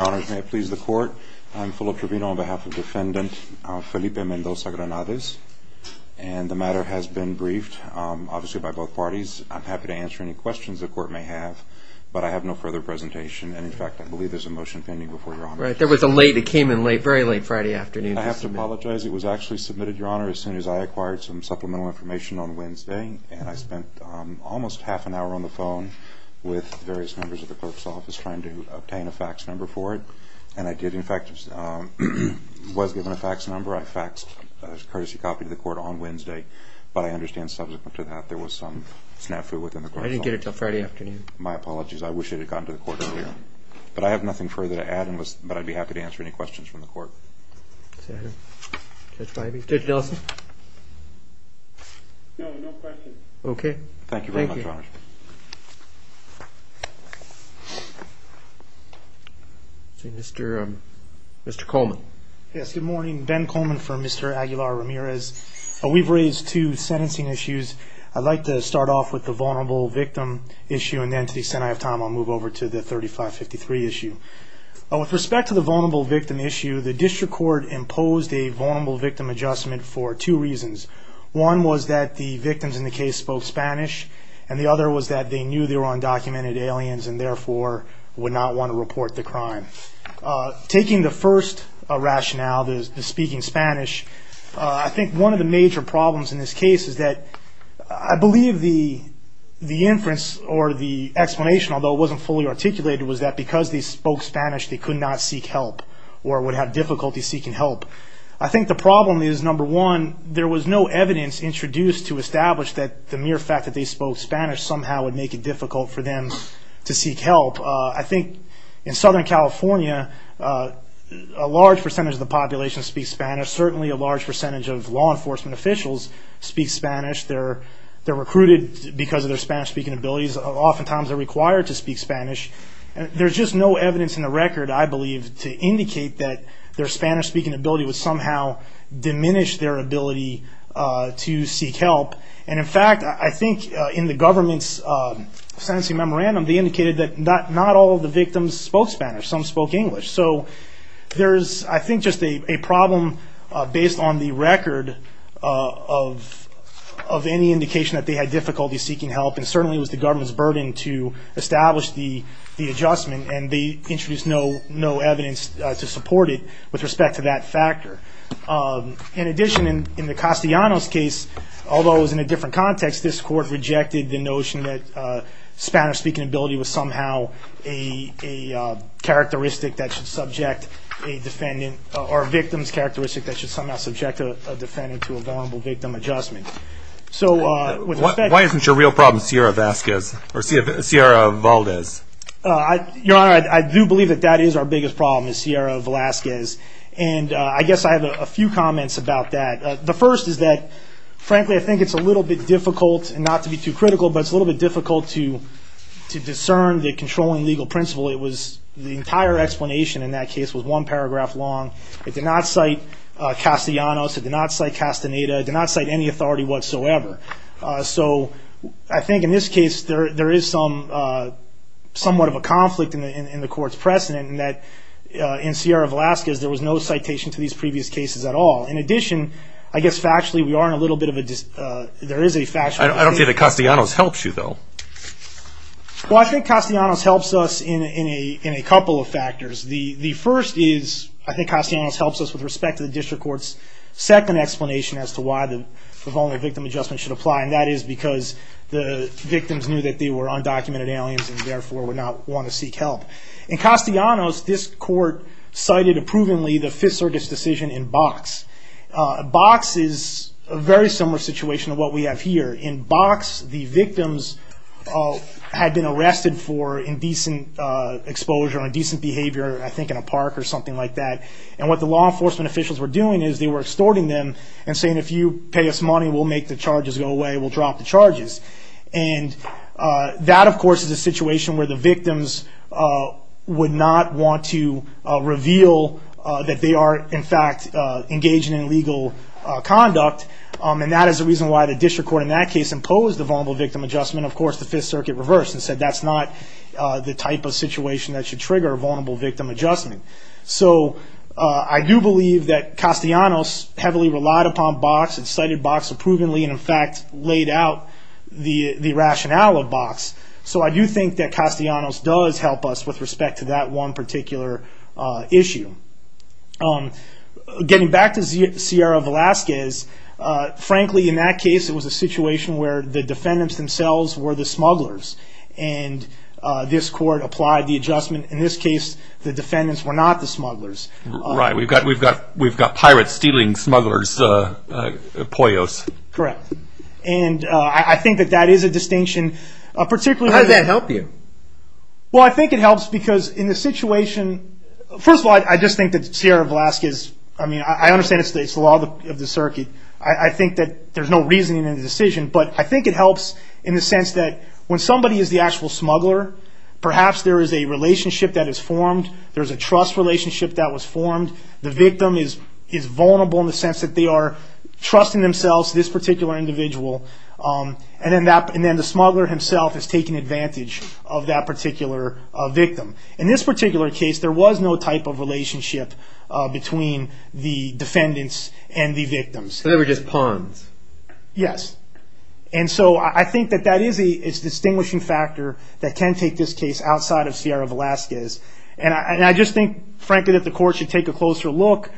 Your Honor, may it please the Court, I'm Philip Trevino on behalf of Defendant Felipe Mendoza-Granades and the matter has been briefed, obviously by both parties. I'm happy to answer any questions the Court may have but I have no further presentation and in fact I believe there's a motion pending before Your Honor. Right, there was a late, it came in late, very late Friday afternoon. I have to apologize, it was actually submitted, Your Honor, as soon as I acquired some supplemental information on Wednesday and I spent almost half an hour on the phone with various members of the clerk's office trying to obtain a fax number for it and I did in fact, was given a fax number. I faxed a courtesy copy to the Court on Wednesday but I understand subsequent to that there was some snafu within the clerk's office. I didn't get it until Friday afternoon. My apologies, I wish it had gotten to the Court earlier. But I have nothing further to add but I'd be happy to answer any questions from the Court. Judge Delson. No, no questions. Okay, thank you. Thank you very much, Your Honor. Mr. Coleman. Yes, good morning. Ben Coleman for Mr. Aguilar Ramirez. We've raised two sentencing issues. I'd like to start off with the vulnerable victim issue and then to the extent I have time I'll move over to the 3553 issue. With respect to the vulnerable victim issue, the District Court imposed a vulnerable victim adjustment for two reasons. One was that the victims in the case spoke Spanish and the other was that they knew they were undocumented aliens and therefore would not want to report the crime. Taking the first rationale, the speaking Spanish, I think one of the major problems in this case is that I believe the inference or the explanation, although it wasn't fully articulated, was that because they spoke Spanish they could not seek help or would have difficulty seeking help. I think the problem is, number one, there was no evidence introduced to establish that the mere fact that they spoke Spanish somehow would make it difficult for them to seek help. I think in Southern California a large percentage of the population speaks Spanish. Certainly a large percentage of law enforcement officials speak Spanish. They're recruited because of their Spanish speaking abilities. Oftentimes they're required to speak Spanish. There's just no evidence in the record, I believe, to indicate that their Spanish speaking ability would somehow diminish their ability to seek help. In fact, I think in the government's sentencing memorandum they indicated that not all of the victims spoke Spanish. Some spoke English. There's, I think, just a problem based on the record of any indication that they had difficulty seeking help and certainly it was the government's burden to establish the adjustment, and they introduced no evidence to support it with respect to that factor. In addition, in the Castellanos case, although it was in a different context, this court rejected the notion that Spanish speaking ability was somehow a characteristic that should subject a defendant or a victim's characteristic that should somehow subject a defendant to a vulnerable victim adjustment. Why isn't your real problem Sierra Valdez? Your Honor, I do believe that that is our biggest problem is Sierra Valdez, and I guess I have a few comments about that. The first is that, frankly, I think it's a little bit difficult, and not to be too critical, but it's a little bit difficult to discern the controlling legal principle. The entire explanation in that case was one paragraph long. It did not cite Castellanos. It did not cite Castaneda. It did not cite any authority whatsoever. So I think in this case there is somewhat of a conflict in the court's precedent in that in Sierra Velazquez there was no citation to these previous cases at all. In addition, I guess factually we are in a little bit of a dis- I don't think that Castellanos helps you, though. Well, I think Castellanos helps us in a couple of factors. The first is, I think Castellanos helps us with respect to the district court's second explanation as to why the Voluntary Victim Adjustment should apply, and that is because the victims knew that they were undocumented aliens and therefore would not want to seek help. In Castellanos, this court cited approvingly the Fifth Circuit's decision in Box. Box is a very similar situation to what we have here. In Box, the victims had been arrested for indecent exposure or indecent behavior, I think in a park or something like that, and what the law enforcement officials were doing is they were extorting them and saying, if you pay us money, we'll make the charges go away, we'll drop the charges. And that, of course, is a situation where the victims would not want to reveal that they are, in fact, engaging in illegal conduct, and that is the reason why the district court in that case imposed the Vulnerable Victim Adjustment. Of course, the Fifth Circuit reversed and said that's not the type of situation that should trigger a Vulnerable Victim Adjustment. So I do believe that Castellanos heavily relied upon Box. It cited Box approvingly and, in fact, laid out the rationale of Box. So I do think that Castellanos does help us with respect to that one particular issue. Getting back to Sierra Velazquez, frankly, in that case, it was a situation where the defendants themselves were the smugglers, and this court applied the adjustment. In this case, the defendants were not the smugglers. Right, we've got pirates stealing smugglers' poyos. Correct. And I think that that is a distinction. How does that help you? Well, I think it helps because in this situation, first of all, I just think that Sierra Velazquez, I mean, I understand it's the law of the circuit. I think that there's no reasoning in the decision, but I think it helps in the sense that when somebody is the actual smuggler, perhaps there is a relationship that is formed. There's a trust relationship that was formed. The victim is vulnerable in the sense that they are trusting themselves, this particular individual, and then the smuggler himself is taking advantage of that particular victim. In this particular case, there was no type of relationship between the defendants and the victims. So they were just pawns. Yes. And so I think that that is a distinguishing factor that can take this case outside of Sierra Velazquez. And I just think, frankly, that the court should take a closer look,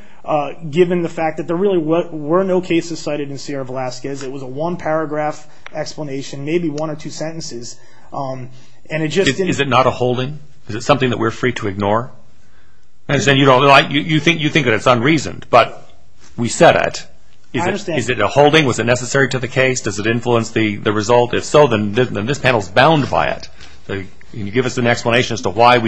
given the fact that there really were no cases cited in Sierra Velazquez. It was a one-paragraph explanation, maybe one or two sentences. Is it not a holding? Is it something that we're free to ignore? You think that it's unreasoned, but we said it. I understand. Is it a holding? Was it necessary to the case? Does it influence the result? If so, then this panel is bound by it. Can you give us an explanation as to why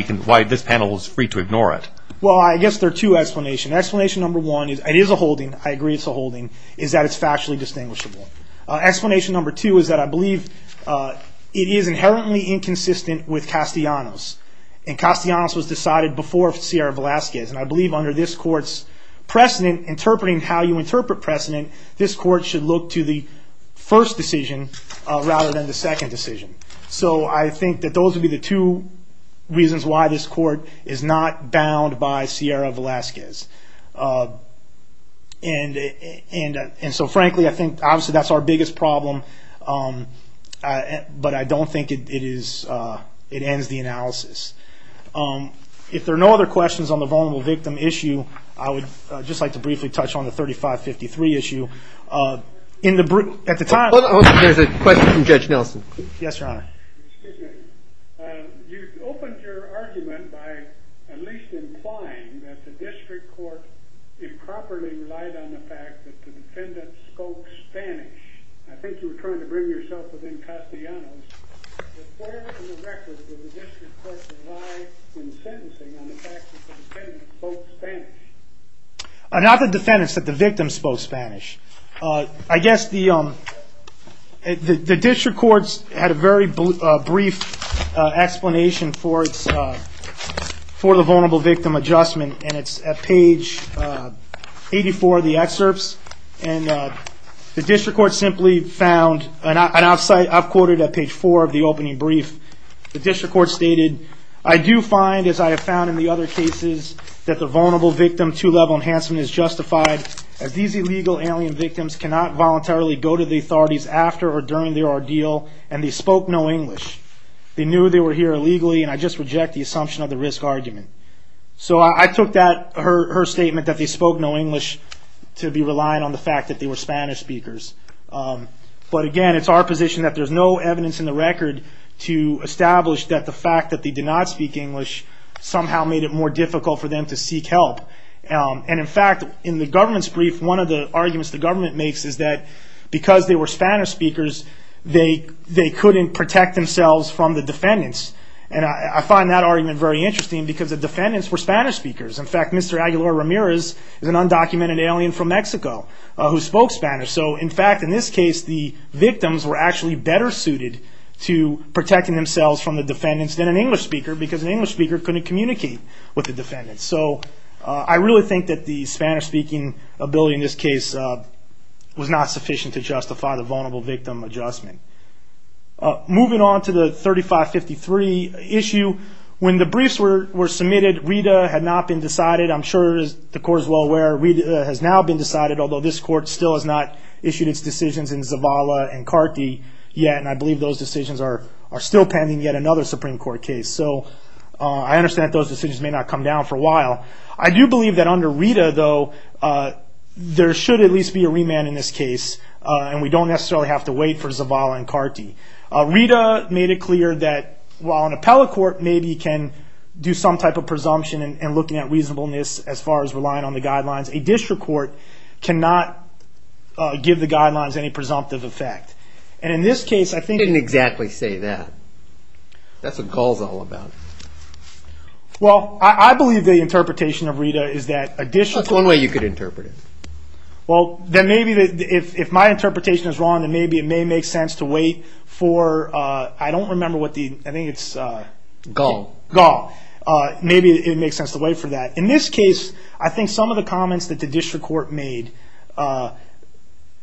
this panel is free to ignore it? Well, I guess there are two explanations. Explanation number one, it is a holding, I agree it's a holding, is that it's factually distinguishable. Explanation number two is that I believe it is inherently inconsistent with Castellanos, and Castellanos was decided before Sierra Velazquez. And I believe under this court's precedent, interpreting how you interpret precedent, this court should look to the first decision rather than the second decision. So I think that those would be the two reasons why this court is not bound by Sierra Velazquez. And so, frankly, I think obviously that's our biggest problem, but I don't think it ends the analysis. If there are no other questions on the vulnerable victim issue, I would just like to briefly touch on the 3553 issue. At the time. There's a question from Judge Nelson. Yes, Your Honor. Excuse me. You opened your argument by at least implying that the district court improperly relied on the fact that the defendant spoke Spanish. I think you were trying to bring yourself within Castellanos. But where in the record did the district court rely in sentencing on the fact that the defendant spoke Spanish? Not the defendant, but the victim spoke Spanish. I guess the district court had a very brief explanation for the vulnerable victim adjustment, and it's at page 84 of the excerpts. And the district court simply found, and I've quoted at page 4 of the opening brief, the district court stated, I do find, as I have found in the other cases, that the vulnerable victim two-level enhancement is justified, as these illegal alien victims cannot voluntarily go to the authorities after or during their ordeal, and they spoke no English. They knew they were here illegally, and I just reject the assumption of the risk argument. So I took that, her statement that they spoke no English, to be reliant on the fact that they were Spanish speakers. But again, it's our position that there's no evidence in the record to establish that the fact that they did not speak English somehow made it more difficult for them to seek help. And in fact, in the government's brief, one of the arguments the government makes is that because they were Spanish speakers, they couldn't protect themselves from the defendants. And I find that argument very interesting, because the defendants were Spanish speakers. In fact, Mr. Aguilar Ramirez is an undocumented alien from Mexico who spoke Spanish. So in fact, in this case, the victims were actually better suited to protecting themselves from the defendants than an English speaker, because an English speaker couldn't communicate with the defendants. So I really think that the Spanish-speaking ability in this case was not sufficient to justify the vulnerable victim adjustment. Moving on to the 3553 issue, when the briefs were submitted, RIDA had not been decided. I'm sure the Court is well aware that RIDA has now been decided, although this Court still has not issued its decisions in Zavala and Carty yet, and I believe those decisions are still pending yet another Supreme Court case. So I understand that those decisions may not come down for a while. I do believe that under RIDA, though, there should at least be a remand in this case, and we don't necessarily have to wait for Zavala and Carty. RIDA made it clear that, while an appellate court maybe can do some type of presumption and looking at reasonableness as far as relying on the guidelines, a district court cannot give the guidelines any presumptive effect. And in this case, I think— You didn't exactly say that. That's what Gall's all about. Well, I believe the interpretation of RIDA is that a district court— That's one way you could interpret it. Well, then maybe if my interpretation is wrong, then maybe it may make sense to wait for— I don't remember what the—I think it's— Gall. Gall. Maybe it would make sense to wait for that. In this case, I think some of the comments that the district court made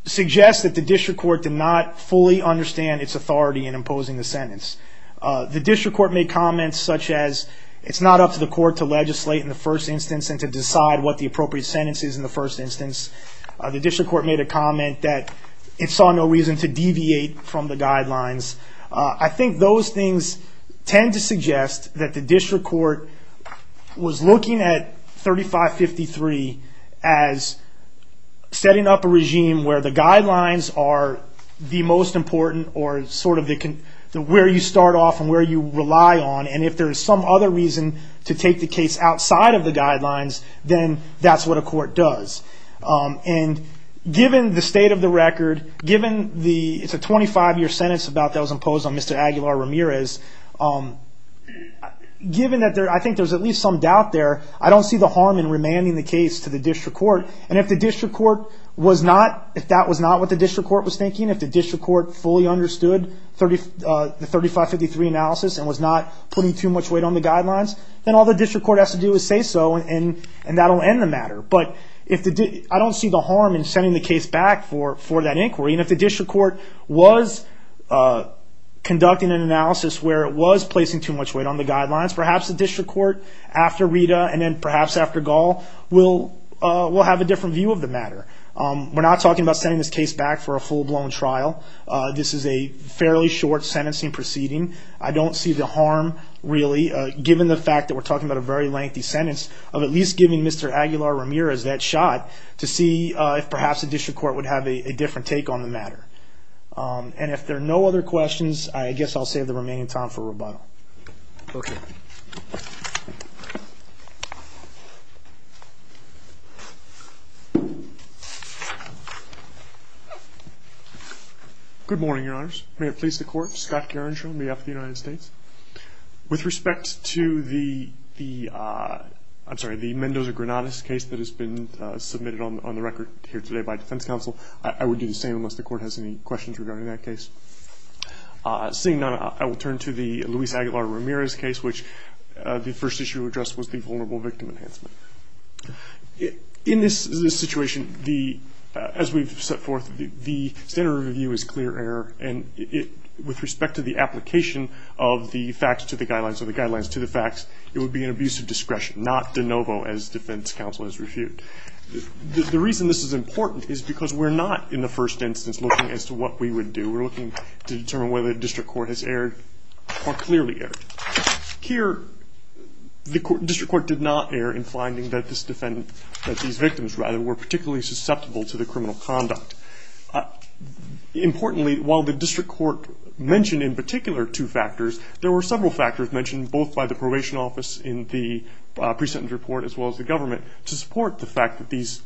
suggest that the district court did not fully understand its authority in imposing the sentence. The district court made comments such as, it's not up to the court to legislate in the first instance and to decide what the appropriate sentence is in the first instance. The district court made a comment that it saw no reason to deviate from the guidelines. I think those things tend to suggest that the district court was looking at 3553 as setting up a regime where the guidelines are the most important or sort of where you start off and where you rely on. And if there is some other reason to take the case outside of the guidelines, then that's what a court does. And given the state of the record, given the— it's a 25-year sentence about that was imposed on Mr. Aguilar Ramirez. Given that there—I think there's at least some doubt there, I don't see the harm in remanding the case to the district court. And if the district court was not—if that was not what the district court was thinking, if the district court fully understood the 3553 analysis and was not putting too much weight on the guidelines, then all the district court has to do is say so and that will end the matter. But if the—I don't see the harm in sending the case back for that inquiry. And if the district court was conducting an analysis where it was placing too much weight on the guidelines, perhaps the district court after Rita and then perhaps after Gall will have a different view of the matter. We're not talking about sending this case back for a full-blown trial. This is a fairly short sentencing proceeding. I don't see the harm, really, given the fact that we're talking about a very lengthy sentence, of at least giving Mr. Aguilar Ramirez that shot to see if perhaps the district court would have a different take on the matter. And if there are no other questions, I guess I'll save the remaining time for rebuttal. Okay. Good morning, Your Honors. May it please the Court, Scott Gerenshaw on behalf of the United States. With respect to the—I'm sorry, the Mendoza-Granados case that has been submitted on the record here today by defense counsel, I would do the same unless the Court has any questions regarding that case. Seeing none, I will turn to the Luis Aguilar Ramirez case, which the first issue addressed was the vulnerable victim enhancement. In this situation, as we've set forth, the standard review is clear error, and with respect to the application of the facts to the guidelines or the guidelines to the facts, it would be an abuse of discretion, not de novo as defense counsel has refuted. The reason this is important is because we're not, in the first instance, looking as to what we would do. We're looking to determine whether the district court has erred or clearly erred. Here, the district court did not err in finding that these victims, rather, were particularly susceptible to the criminal conduct. Importantly, while the district court mentioned in particular two factors, there were several factors mentioned both by the probation office in the pre-sentence report as well as the government to support the fact that these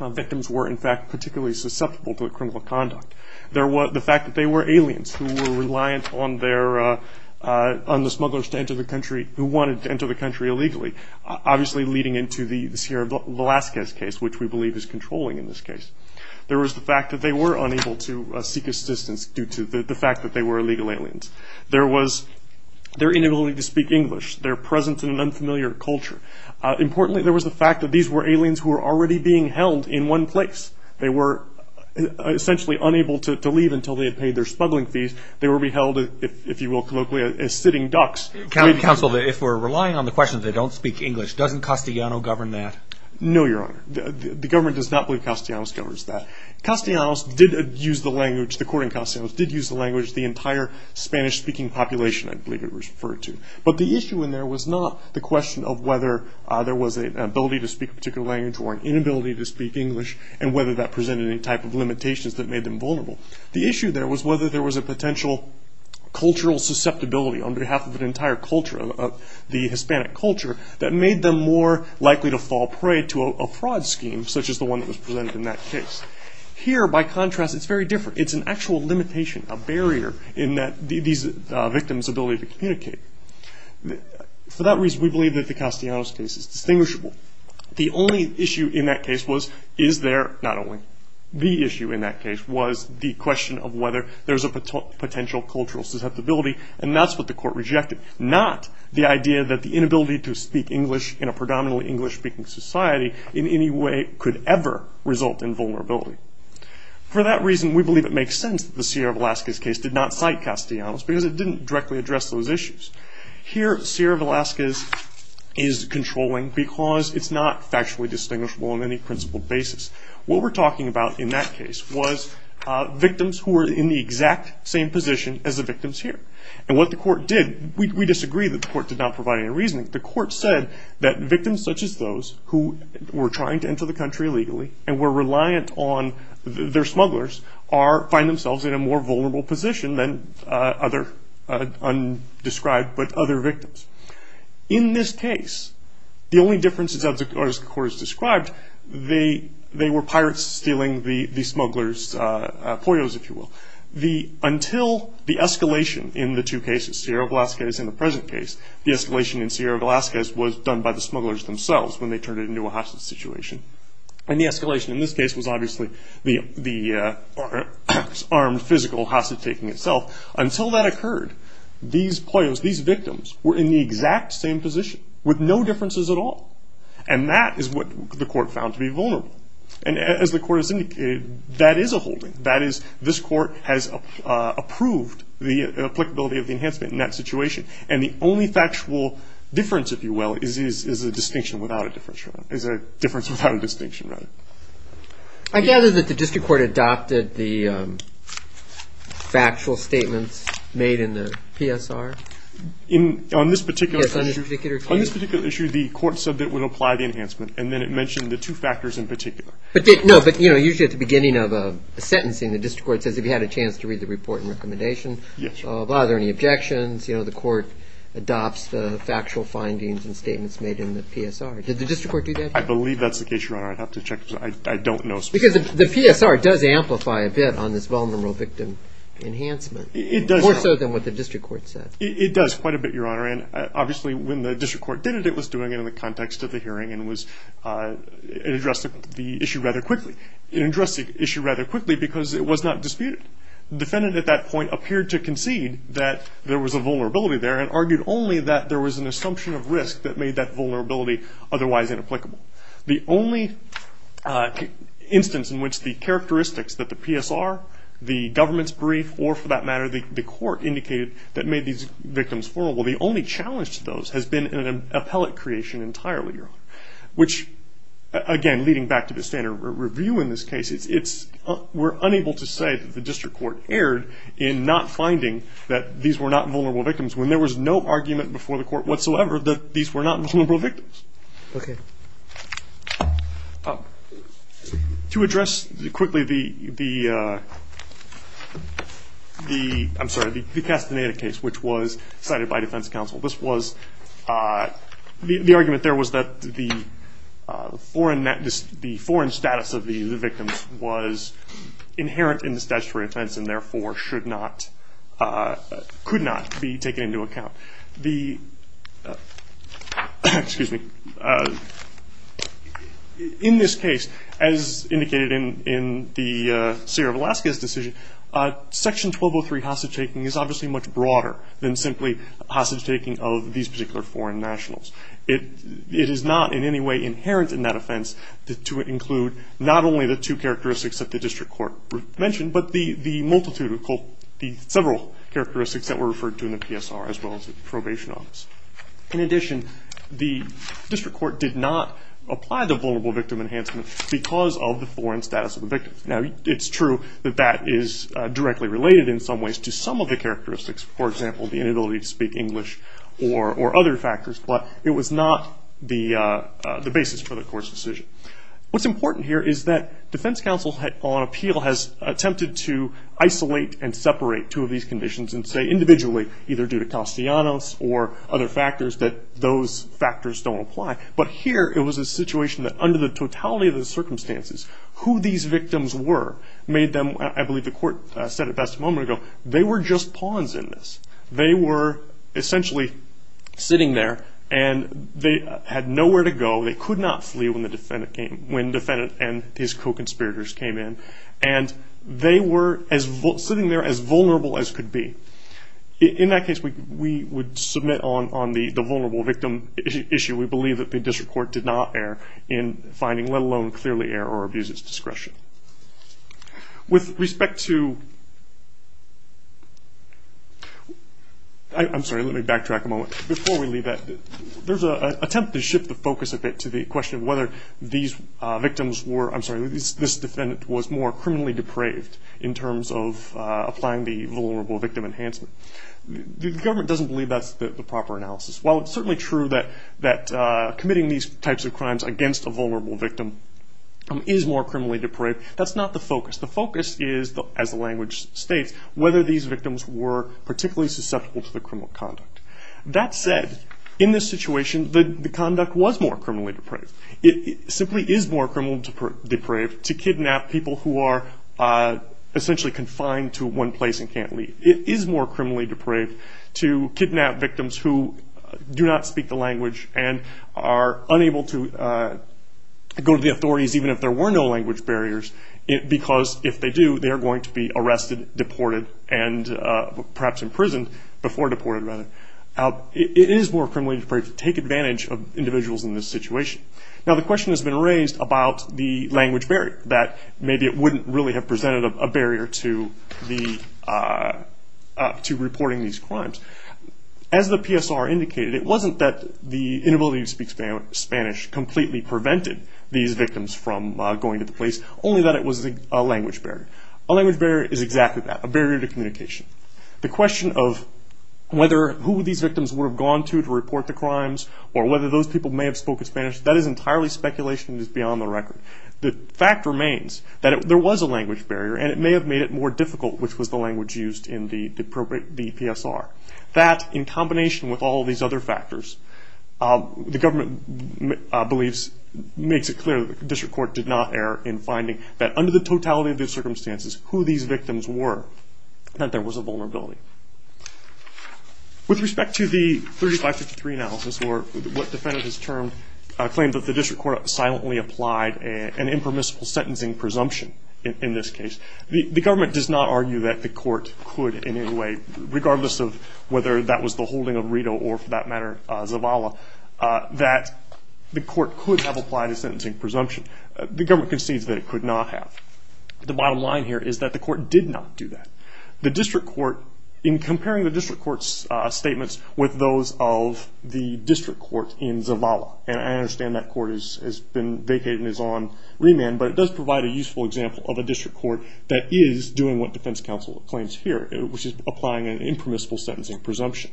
victims were, in fact, particularly susceptible to the criminal conduct. The fact that they were aliens who were reliant on the smugglers who wanted to enter the country illegally, obviously leading into the Sierra Velazquez case, which we believe is controlling in this case. There was the fact that they were unable to seek assistance due to the fact that they were illegal aliens. There was their inability to speak English, their presence in an unfamiliar culture. Importantly, there was the fact that these were aliens who were already being held in one place. They were essentially unable to leave until they had paid their smuggling fees. They were being held, if you will colloquially, as sitting ducks. Counsel, if we're relying on the question that they don't speak English, doesn't Castellanos govern that? No, Your Honor. The government does not believe Castellanos governs that. Castellanos did use the language, the court in Castellanos did use the language, the entire Spanish-speaking population, I believe it was referred to. But the issue in there was not the question of whether there was an ability to speak a particular language or an inability to speak English and whether that presented any type of limitations that made them vulnerable. The issue there was whether there was a potential cultural susceptibility on behalf of an entire culture, the Hispanic culture, that made them more likely to fall prey to a fraud scheme such as the one that was presented in that case. Here, by contrast, it's very different. It's an actual limitation, a barrier in these victims' ability to communicate. For that reason, we believe that the Castellanos case is distinguishable. The only issue in that case was is there not only the issue in that case was the question of whether there's a potential cultural susceptibility, and that's what the court rejected, not the idea that the inability to speak English in a predominantly English-speaking society in any way could ever result in vulnerability. For that reason, we believe it makes sense that the Sierra Velazquez case did not cite Castellanos because it didn't directly address those issues. Here, Sierra Velazquez is controlling because it's not factually distinguishable on any principled basis. What we're talking about in that case was victims who were in the exact same position as the victims here. And what the court did, we disagree that the court did not provide any reasoning. The court said that victims such as those who were trying to enter the country illegally and were reliant on their smugglers find themselves in a more vulnerable position than other undescribed but other victims. In this case, the only differences, as the court has described, they were pirates stealing the smugglers' poyos, if you will. Until the escalation in the two cases, Sierra Velazquez and the present case, the escalation in Sierra Velazquez was done by the smugglers themselves when they turned it into a hostage situation. And the escalation in this case was obviously the armed physical hostage taking itself. Until that occurred, these poyos, these victims, were in the exact same position with no differences at all. And that is what the court found to be vulnerable. And as the court has indicated, that is a holding. That is, this court has approved the applicability of the enhancement in that situation. And the only factual difference, if you will, is a distinction without a difference. It's a difference without a distinction, rather. I gather that the district court adopted the factual statements made in the PSR. On this particular issue, the court said that it would apply the enhancement, and then it mentioned the two factors in particular. No, but usually at the beginning of a sentencing, the district court says if you had a chance to read the report and recommendation, are there any objections? The court adopts the factual findings and statements made in the PSR. Did the district court do that? I believe that's the case, Your Honor. I'd have to check. I don't know specifically. Because the PSR does amplify a bit on this vulnerable victim enhancement. It does. More so than what the district court said. It does quite a bit, Your Honor. And obviously when the district court did it, it was doing it in the context of the hearing and addressed the issue rather quickly. It addressed the issue rather quickly because it was not disputed. The defendant at that point appeared to concede that there was a vulnerability there and argued only that there was an assumption of risk that made that vulnerability otherwise inapplicable. The only instance in which the characteristics that the PSR, the government's brief, or for that matter the court indicated that made these victims vulnerable, the only challenge to those has been an appellate creation entirely, Your Honor. Which, again, leading back to the standard review in this case, we're unable to say that the district court erred in not finding that these were not vulnerable victims when there was no argument before the court whatsoever that these were not vulnerable victims. Okay. To address quickly the Castaneda case, which was cited by defense counsel, the argument there was that the foreign status of the victims was inherent in the statutory offense and therefore could not be taken into account. In this case, as indicated in the Seer of Alaska's decision, Section 1203 hostage-taking is obviously much broader than simply hostage-taking of these particular foreign nationals. It is not in any way inherent in that offense to include not only the two characteristics that the district court mentioned, but the multitude of several characteristics that were referred to in the PSR as well as the probation office. In addition, the district court did not apply the vulnerable victim enhancement because of the foreign status of the victims. Now, it's true that that is directly related in some ways to some of the characteristics, for example, the inability to speak English or other factors, but it was not the basis for the court's decision. What's important here is that defense counsel on appeal has attempted to isolate and separate two of these conditions and say individually, either due to Castellanos or other factors, that those factors don't apply. But here it was a situation that under the totality of the circumstances, who these victims were made them, I believe the court said it best a moment ago, they were just pawns in this. They were essentially sitting there and they had nowhere to go. They could not flee when the defendant and his co-conspirators came in, and they were sitting there as vulnerable as could be. In that case, we would submit on the vulnerable victim issue. We believe that the district court did not err in finding, let alone clearly err or abuse its discretion. With respect to – I'm sorry, let me backtrack a moment. Before we leave that, there's an attempt to shift the focus a bit to the question of whether these victims were – I'm sorry, this defendant was more criminally depraved in terms of applying the vulnerable victim enhancement. The government doesn't believe that's the proper analysis. While it's certainly true that committing these types of crimes against a vulnerable victim is more criminally depraved, that's not the focus. The focus is, as the language states, whether these victims were particularly susceptible to the criminal conduct. That said, in this situation, the conduct was more criminally depraved. It simply is more criminally depraved to kidnap people who are essentially confined to one place and can't leave. It is more criminally depraved to kidnap victims who do not speak the language and are unable to go to the authorities, even if there were no language barriers, because if they do, they are going to be arrested, deported, and perhaps imprisoned before deported, rather. It is more criminally depraved to take advantage of individuals in this situation. Now, the question has been raised about the language barrier, that maybe it wouldn't really have presented a barrier to reporting these crimes. As the PSR indicated, it wasn't that the inability to speak Spanish completely prevented these victims from going to the police, only that it was a language barrier. A language barrier is exactly that, a barrier to communication. The question of whether who these victims would have gone to to report the crimes, or whether those people may have spoken Spanish, that is entirely speculation and is beyond the record. The fact remains that there was a language barrier, and it may have made it more difficult, which was the language used in the PSR. That, in combination with all of these other factors, the government makes it clear that the district court did not err in finding that under the totality of the circumstances, who these victims were, that there was a vulnerability. With respect to the 3553 analysis, or what defendant has claimed that the district court silently applied an impermissible sentencing presumption in this case, the government does not argue that the court could in any way, regardless of whether that was the holding of Rideau or, for that matter, Zavala, that the court could have applied a sentencing presumption. The government concedes that it could not have. The bottom line here is that the court did not do that. The district court, in comparing the district court's statements with those of the district court in Zavala, and I understand that court has been vacated and is on remand, but it does provide a useful example of a district court that is doing what defense counsel claims here, which is applying an impermissible sentencing presumption.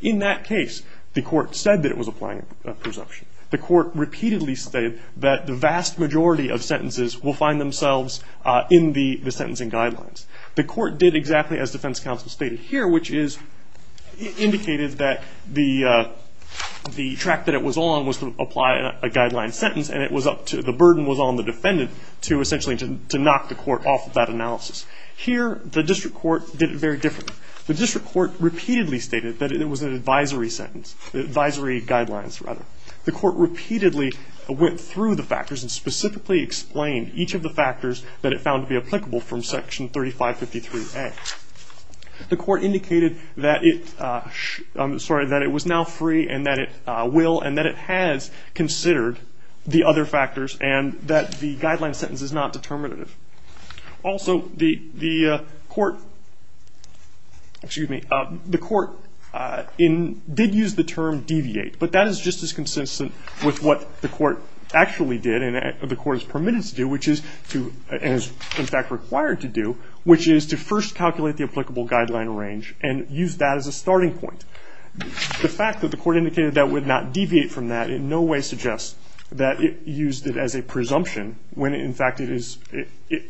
In that case, the court said that it was applying a presumption. The court repeatedly stated that the vast majority of sentences will find themselves in the sentencing guidelines. The court did exactly as defense counsel stated here, which is indicated that the track that it was on was to apply a guideline sentence, and it was up to the burden was on the defendant to essentially to knock the court off of that analysis. Here, the district court did it very differently. The district court repeatedly stated that it was an advisory sentence, advisory guidelines, rather. The court repeatedly went through the factors and specifically explained each of the factors that it found to be applicable from Section 3553A. The court indicated that it was now free and that it will and that it has considered the other factors and that the guideline sentence is not determinative. Also, the court did use the term deviate, but that is just as consistent with what the court actually did and the court is permitted to do, and is, in fact, required to do, which is to first calculate the applicable guideline range and use that as a starting point. The fact that the court indicated that it would not deviate from that in no way suggests that it used it as a presumption when, in fact, it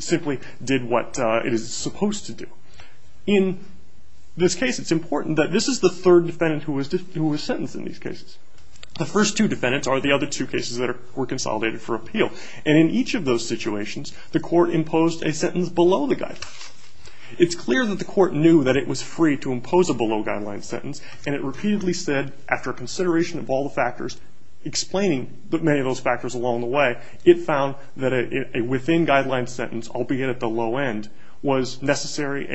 simply did what it is supposed to do. In this case, it's important that this is the third defendant who was sentenced in these cases. The first two defendants are the other two cases that were consolidated for appeal, and in each of those situations, the court imposed a sentence below the guideline. It's clear that the court knew that it was free to impose a below-guideline sentence, and it repeatedly said, after consideration of all the factors, explaining many of those factors along the way, it found that a within-guideline sentence, albeit at the low end, was sufficient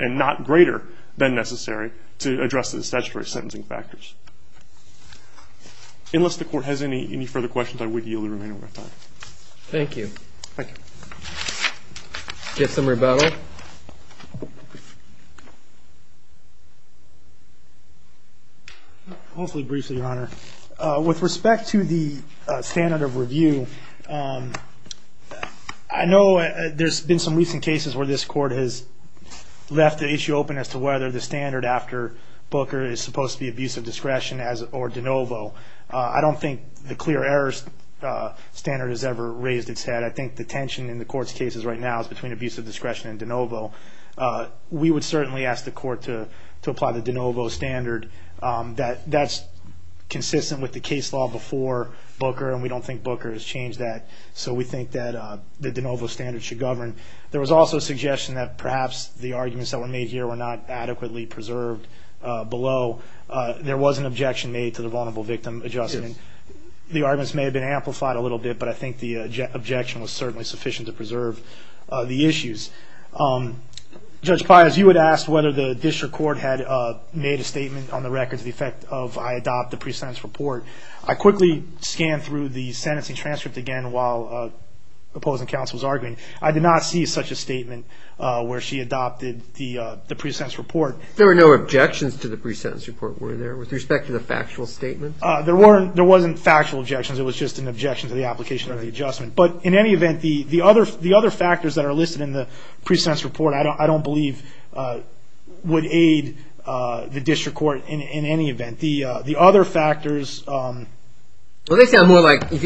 and not greater than necessary to address the statutory sentencing factors. Unless the court has any further questions, I would yield the remaining of my time. Thank you. Thank you. Do you have some rebuttal? Mostly briefly, Your Honor. With respect to the standard of review, I know there's been some recent cases where this court has left the issue open as to whether the standard after Booker is supposed to be abuse of discretion or de novo. I don't think the clear errors standard has ever raised its head. I think the tension in the court's cases right now is between abuse of discretion and de novo. We would certainly ask the court to apply the de novo standard. That's consistent with the case law before Booker, and we don't think Booker has changed that, so we think that the de novo standard should govern. There was also a suggestion that perhaps the arguments that were made here were not adequately preserved below. There was an objection made to the vulnerable victim adjustment. The arguments may have been amplified a little bit, but I think the objection was certainly sufficient to preserve the issues. Judge Pius, you had asked whether the district court had made a statement on the record to the effect of I adopt the pre-sentence report. I quickly scanned through the sentencing transcript again while opposing counsel was arguing. I did not see such a statement where she adopted the pre-sentence report. There were no objections to the pre-sentence report, were there, with respect to the factual statement? There wasn't factual objections. It was just an objection to the application of the adjustment. But in any event, the other factors that are listed in the pre-sentence report, I don't believe would aid the district court in any event. Well, if you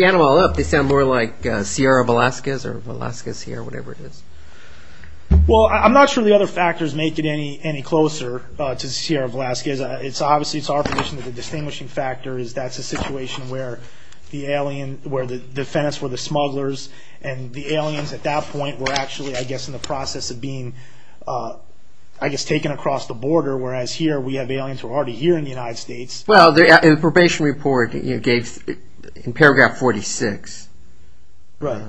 add them all up, they sound more like Sierra Velasquez or Velasquez here, whatever it is. Well, I'm not sure the other factors make it any closer to Sierra Velasquez. Obviously, it's our position that the distinguishing factor is that's a situation where the defendants were the smugglers and the aliens at that point were actually, I guess, in the process of being taken across the border, whereas here we have aliens who are already here in the United States. Well, the probation report gave in paragraph 46. Right.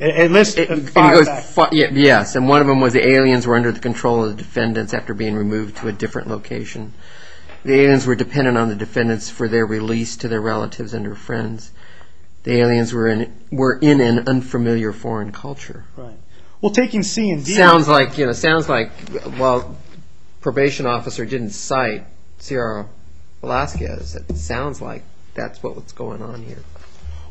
It lists five facts. Yes, and one of them was the aliens were under the control of the defendants after being removed to a different location. The aliens were dependent on the defendants for their release to their relatives and their friends. The aliens were in an unfamiliar foreign culture. Right. Well, taking C and D. It sounds like while probation officer didn't cite Sierra Velasquez, it sounds like that's what's going on here.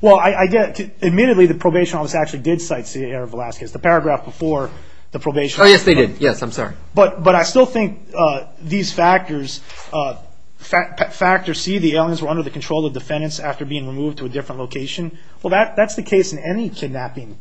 Well, admittedly, the probation officer actually did cite Sierra Velasquez, the paragraph before the probation. Oh, yes, they did. Yes, I'm sorry. But I still think these factors, factor C, the aliens were under the control of defendants after being removed to a different location. Well, that's the case in any kidnapping.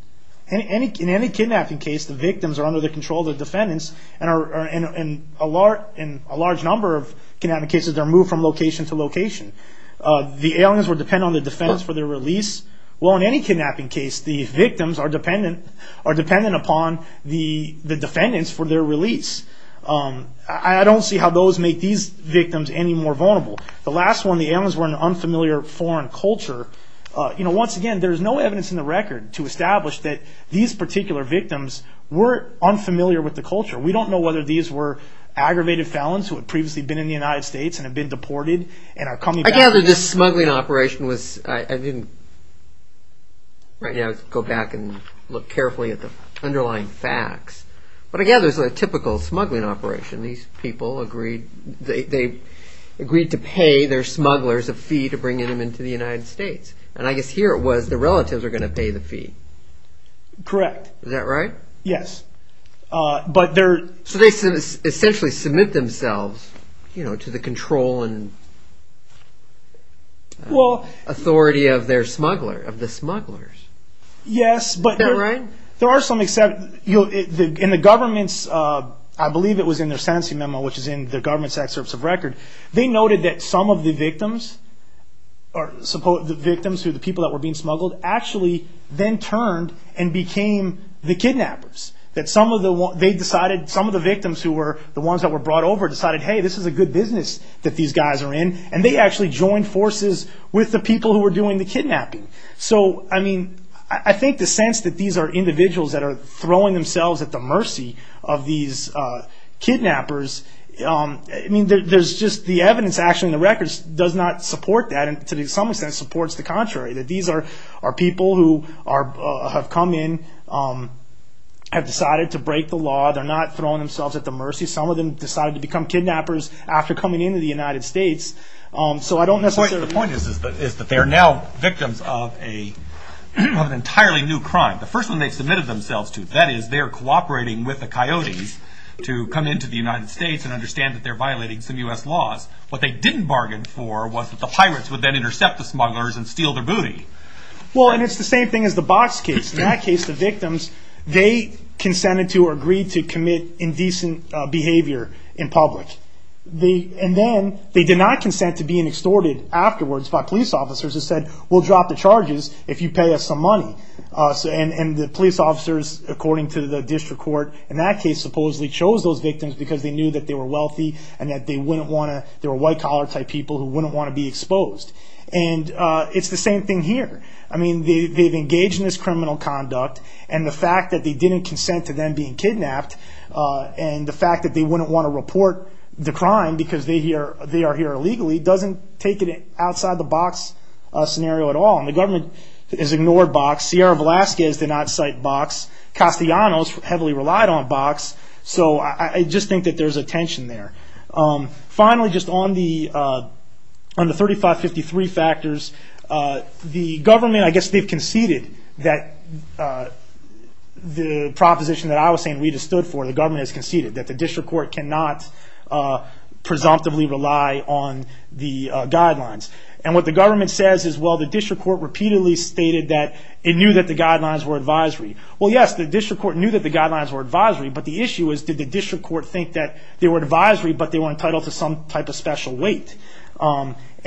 In any kidnapping case, the victims are under the control of the defendants, and in a large number of kidnapping cases, they're moved from location to location. The aliens were dependent on the defendants for their release. Well, in any kidnapping case, the victims are dependent upon the defendants for their release. I don't see how those make these victims any more vulnerable. The last one, the aliens were in an unfamiliar foreign culture. Once again, there's no evidence in the record to establish that these particular victims were unfamiliar with the culture. We don't know whether these were aggravated felons who had previously been in the United States and had been deported and are coming back. I gather this smuggling operation was, I didn't, right now, go back and look carefully at the underlying facts, but I gather it was a typical smuggling operation. These people agreed to pay their smugglers a fee to bring them into the United States. I guess here it was the relatives are going to pay the fee. Correct. Is that right? Yes. So they essentially submit themselves to the control and authority of their smuggler, of the smugglers. Yes. Is that right? There are some exceptions. In the government's, I believe it was in their sentencing memo, which is in the government's excerpts of record, they noted that some of the victims, the people that were being smuggled, actually then turned and became the kidnappers. Some of the victims who were the ones that were brought over decided, hey, this is a good business that these guys are in, and they actually joined forces with the people who were doing the kidnapping. So, I mean, I think the sense that these are individuals that are throwing themselves at the mercy of these kidnappers, I mean, there's just the evidence actually in the records does not support that, and to some extent supports the contrary, that these are people who have come in, have decided to break the law. They're not throwing themselves at the mercy. Some of them decided to become kidnappers after coming into the United States. The point is that they're now victims of an entirely new crime. The first one they submitted themselves to, that is they're cooperating with the coyotes to come into the United States and understand that they're violating some U.S. laws. What they didn't bargain for was that the pirates would then intercept the smugglers and steal their booty. Well, and it's the same thing as the Box case. In that case, the victims, they consented to or agreed to commit indecent behavior in public. And then they did not consent to being extorted afterwards by police officers who said, we'll drop the charges if you pay us some money. And the police officers, according to the district court in that case, supposedly chose those victims because they knew that they were wealthy and that they wouldn't want to, they were white-collar type people who wouldn't want to be exposed. And it's the same thing here. I mean, they've engaged in this criminal conduct, and the fact that they didn't consent to them being kidnapped, and the fact that they wouldn't want to report the crime because they are here illegally, doesn't take it outside the Box scenario at all. And the government has ignored Box. Sierra Velasquez did not cite Box. Castellanos heavily relied on Box. So I just think that there's a tension there. Finally, just on the 3553 factors, the government, I guess they've conceded that the proposition that I was saying that Rita stood for, the government has conceded, that the district court cannot presumptively rely on the guidelines. And what the government says is, well, the district court repeatedly stated that it knew that the guidelines were advisory. Well, yes, the district court knew that the guidelines were advisory, but the issue is, did the district court think that they were advisory but they were entitled to some type of special weight?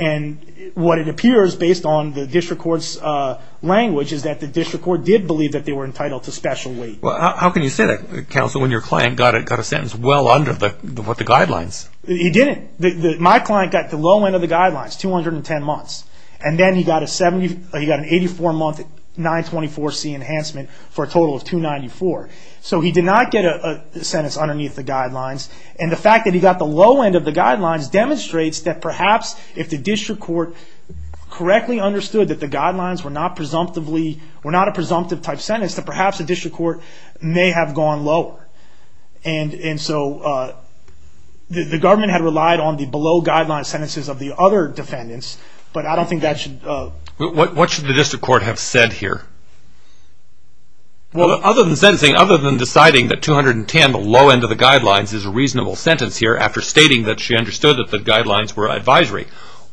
And what it appears, based on the district court's language, is that the district court did believe that they were entitled to special weight. Well, how can you say that, counsel, when your client got a sentence well under the guidelines? He didn't. My client got the low end of the guidelines, 210 months. And then he got an 84-month 924C enhancement for a total of 294. So he did not get a sentence underneath the guidelines. And the fact that he got the low end of the guidelines demonstrates that perhaps if the district court correctly understood that the guidelines were not presumptively, were not a presumptive type sentence, that perhaps the district court may have gone lower. And so the government had relied on the below guidelines sentences of the other defendants, but I don't think that should... What should the district court have said here? Well, other than sentencing, other than deciding that 210, the low end of the guidelines, is a reasonable sentence here, after stating that she understood that the guidelines were advisory,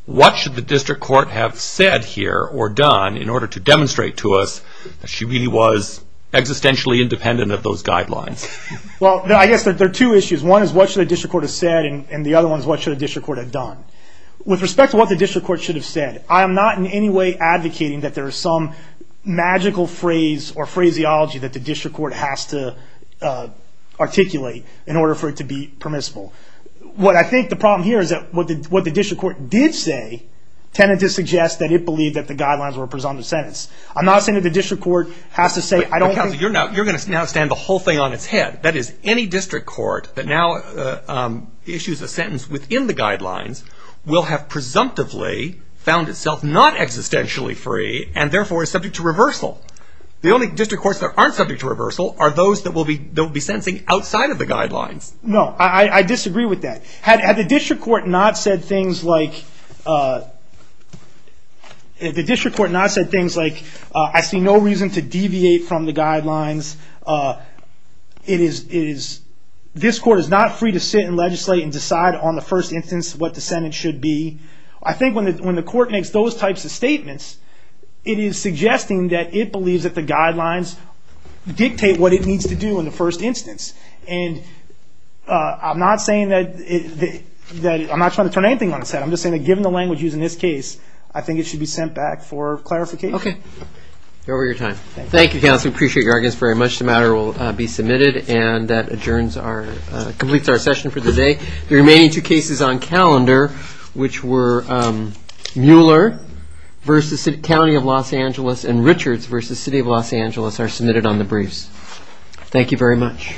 what should the district court have said here or done in order to demonstrate to us that she really was existentially independent of those guidelines? Well, I guess there are two issues. One is what should a district court have said, and the other one is what should a district court have done. With respect to what the district court should have said, I am not in any way advocating that there is some magical phrase or phraseology that the district court has to articulate in order for it to be permissible. What I think the problem here is that what the district court did say tended to suggest that it believed that the guidelines were a presumptive sentence. I'm not saying that the district court has to say... But counsel, you're going to now stand the whole thing on its head. That is, any district court that now issues a sentence within the guidelines will have presumptively found itself not existentially free, and therefore is subject to reversal. The only district courts that aren't subject to reversal are those that will be sentencing outside of the guidelines. No, I disagree with that. Had the district court not said things like, I see no reason to deviate from the guidelines. This court is not free to sit and legislate and decide on the first instance what the sentence should be. I think when the court makes those types of statements, it is suggesting that it believes that the guidelines dictate what it needs to do in the first instance. I'm not trying to turn anything on its head. I'm just saying that given the language used in this case, I think it should be sent back for clarification. Okay. You're over your time. Thank you, counsel. We appreciate your arguments very much. The matter will be submitted, and that completes our session for the day. The remaining two cases on calendar, which were Mueller v. County of Los Angeles and Richards v. City of Los Angeles, are submitted on the briefs. Thank you very much.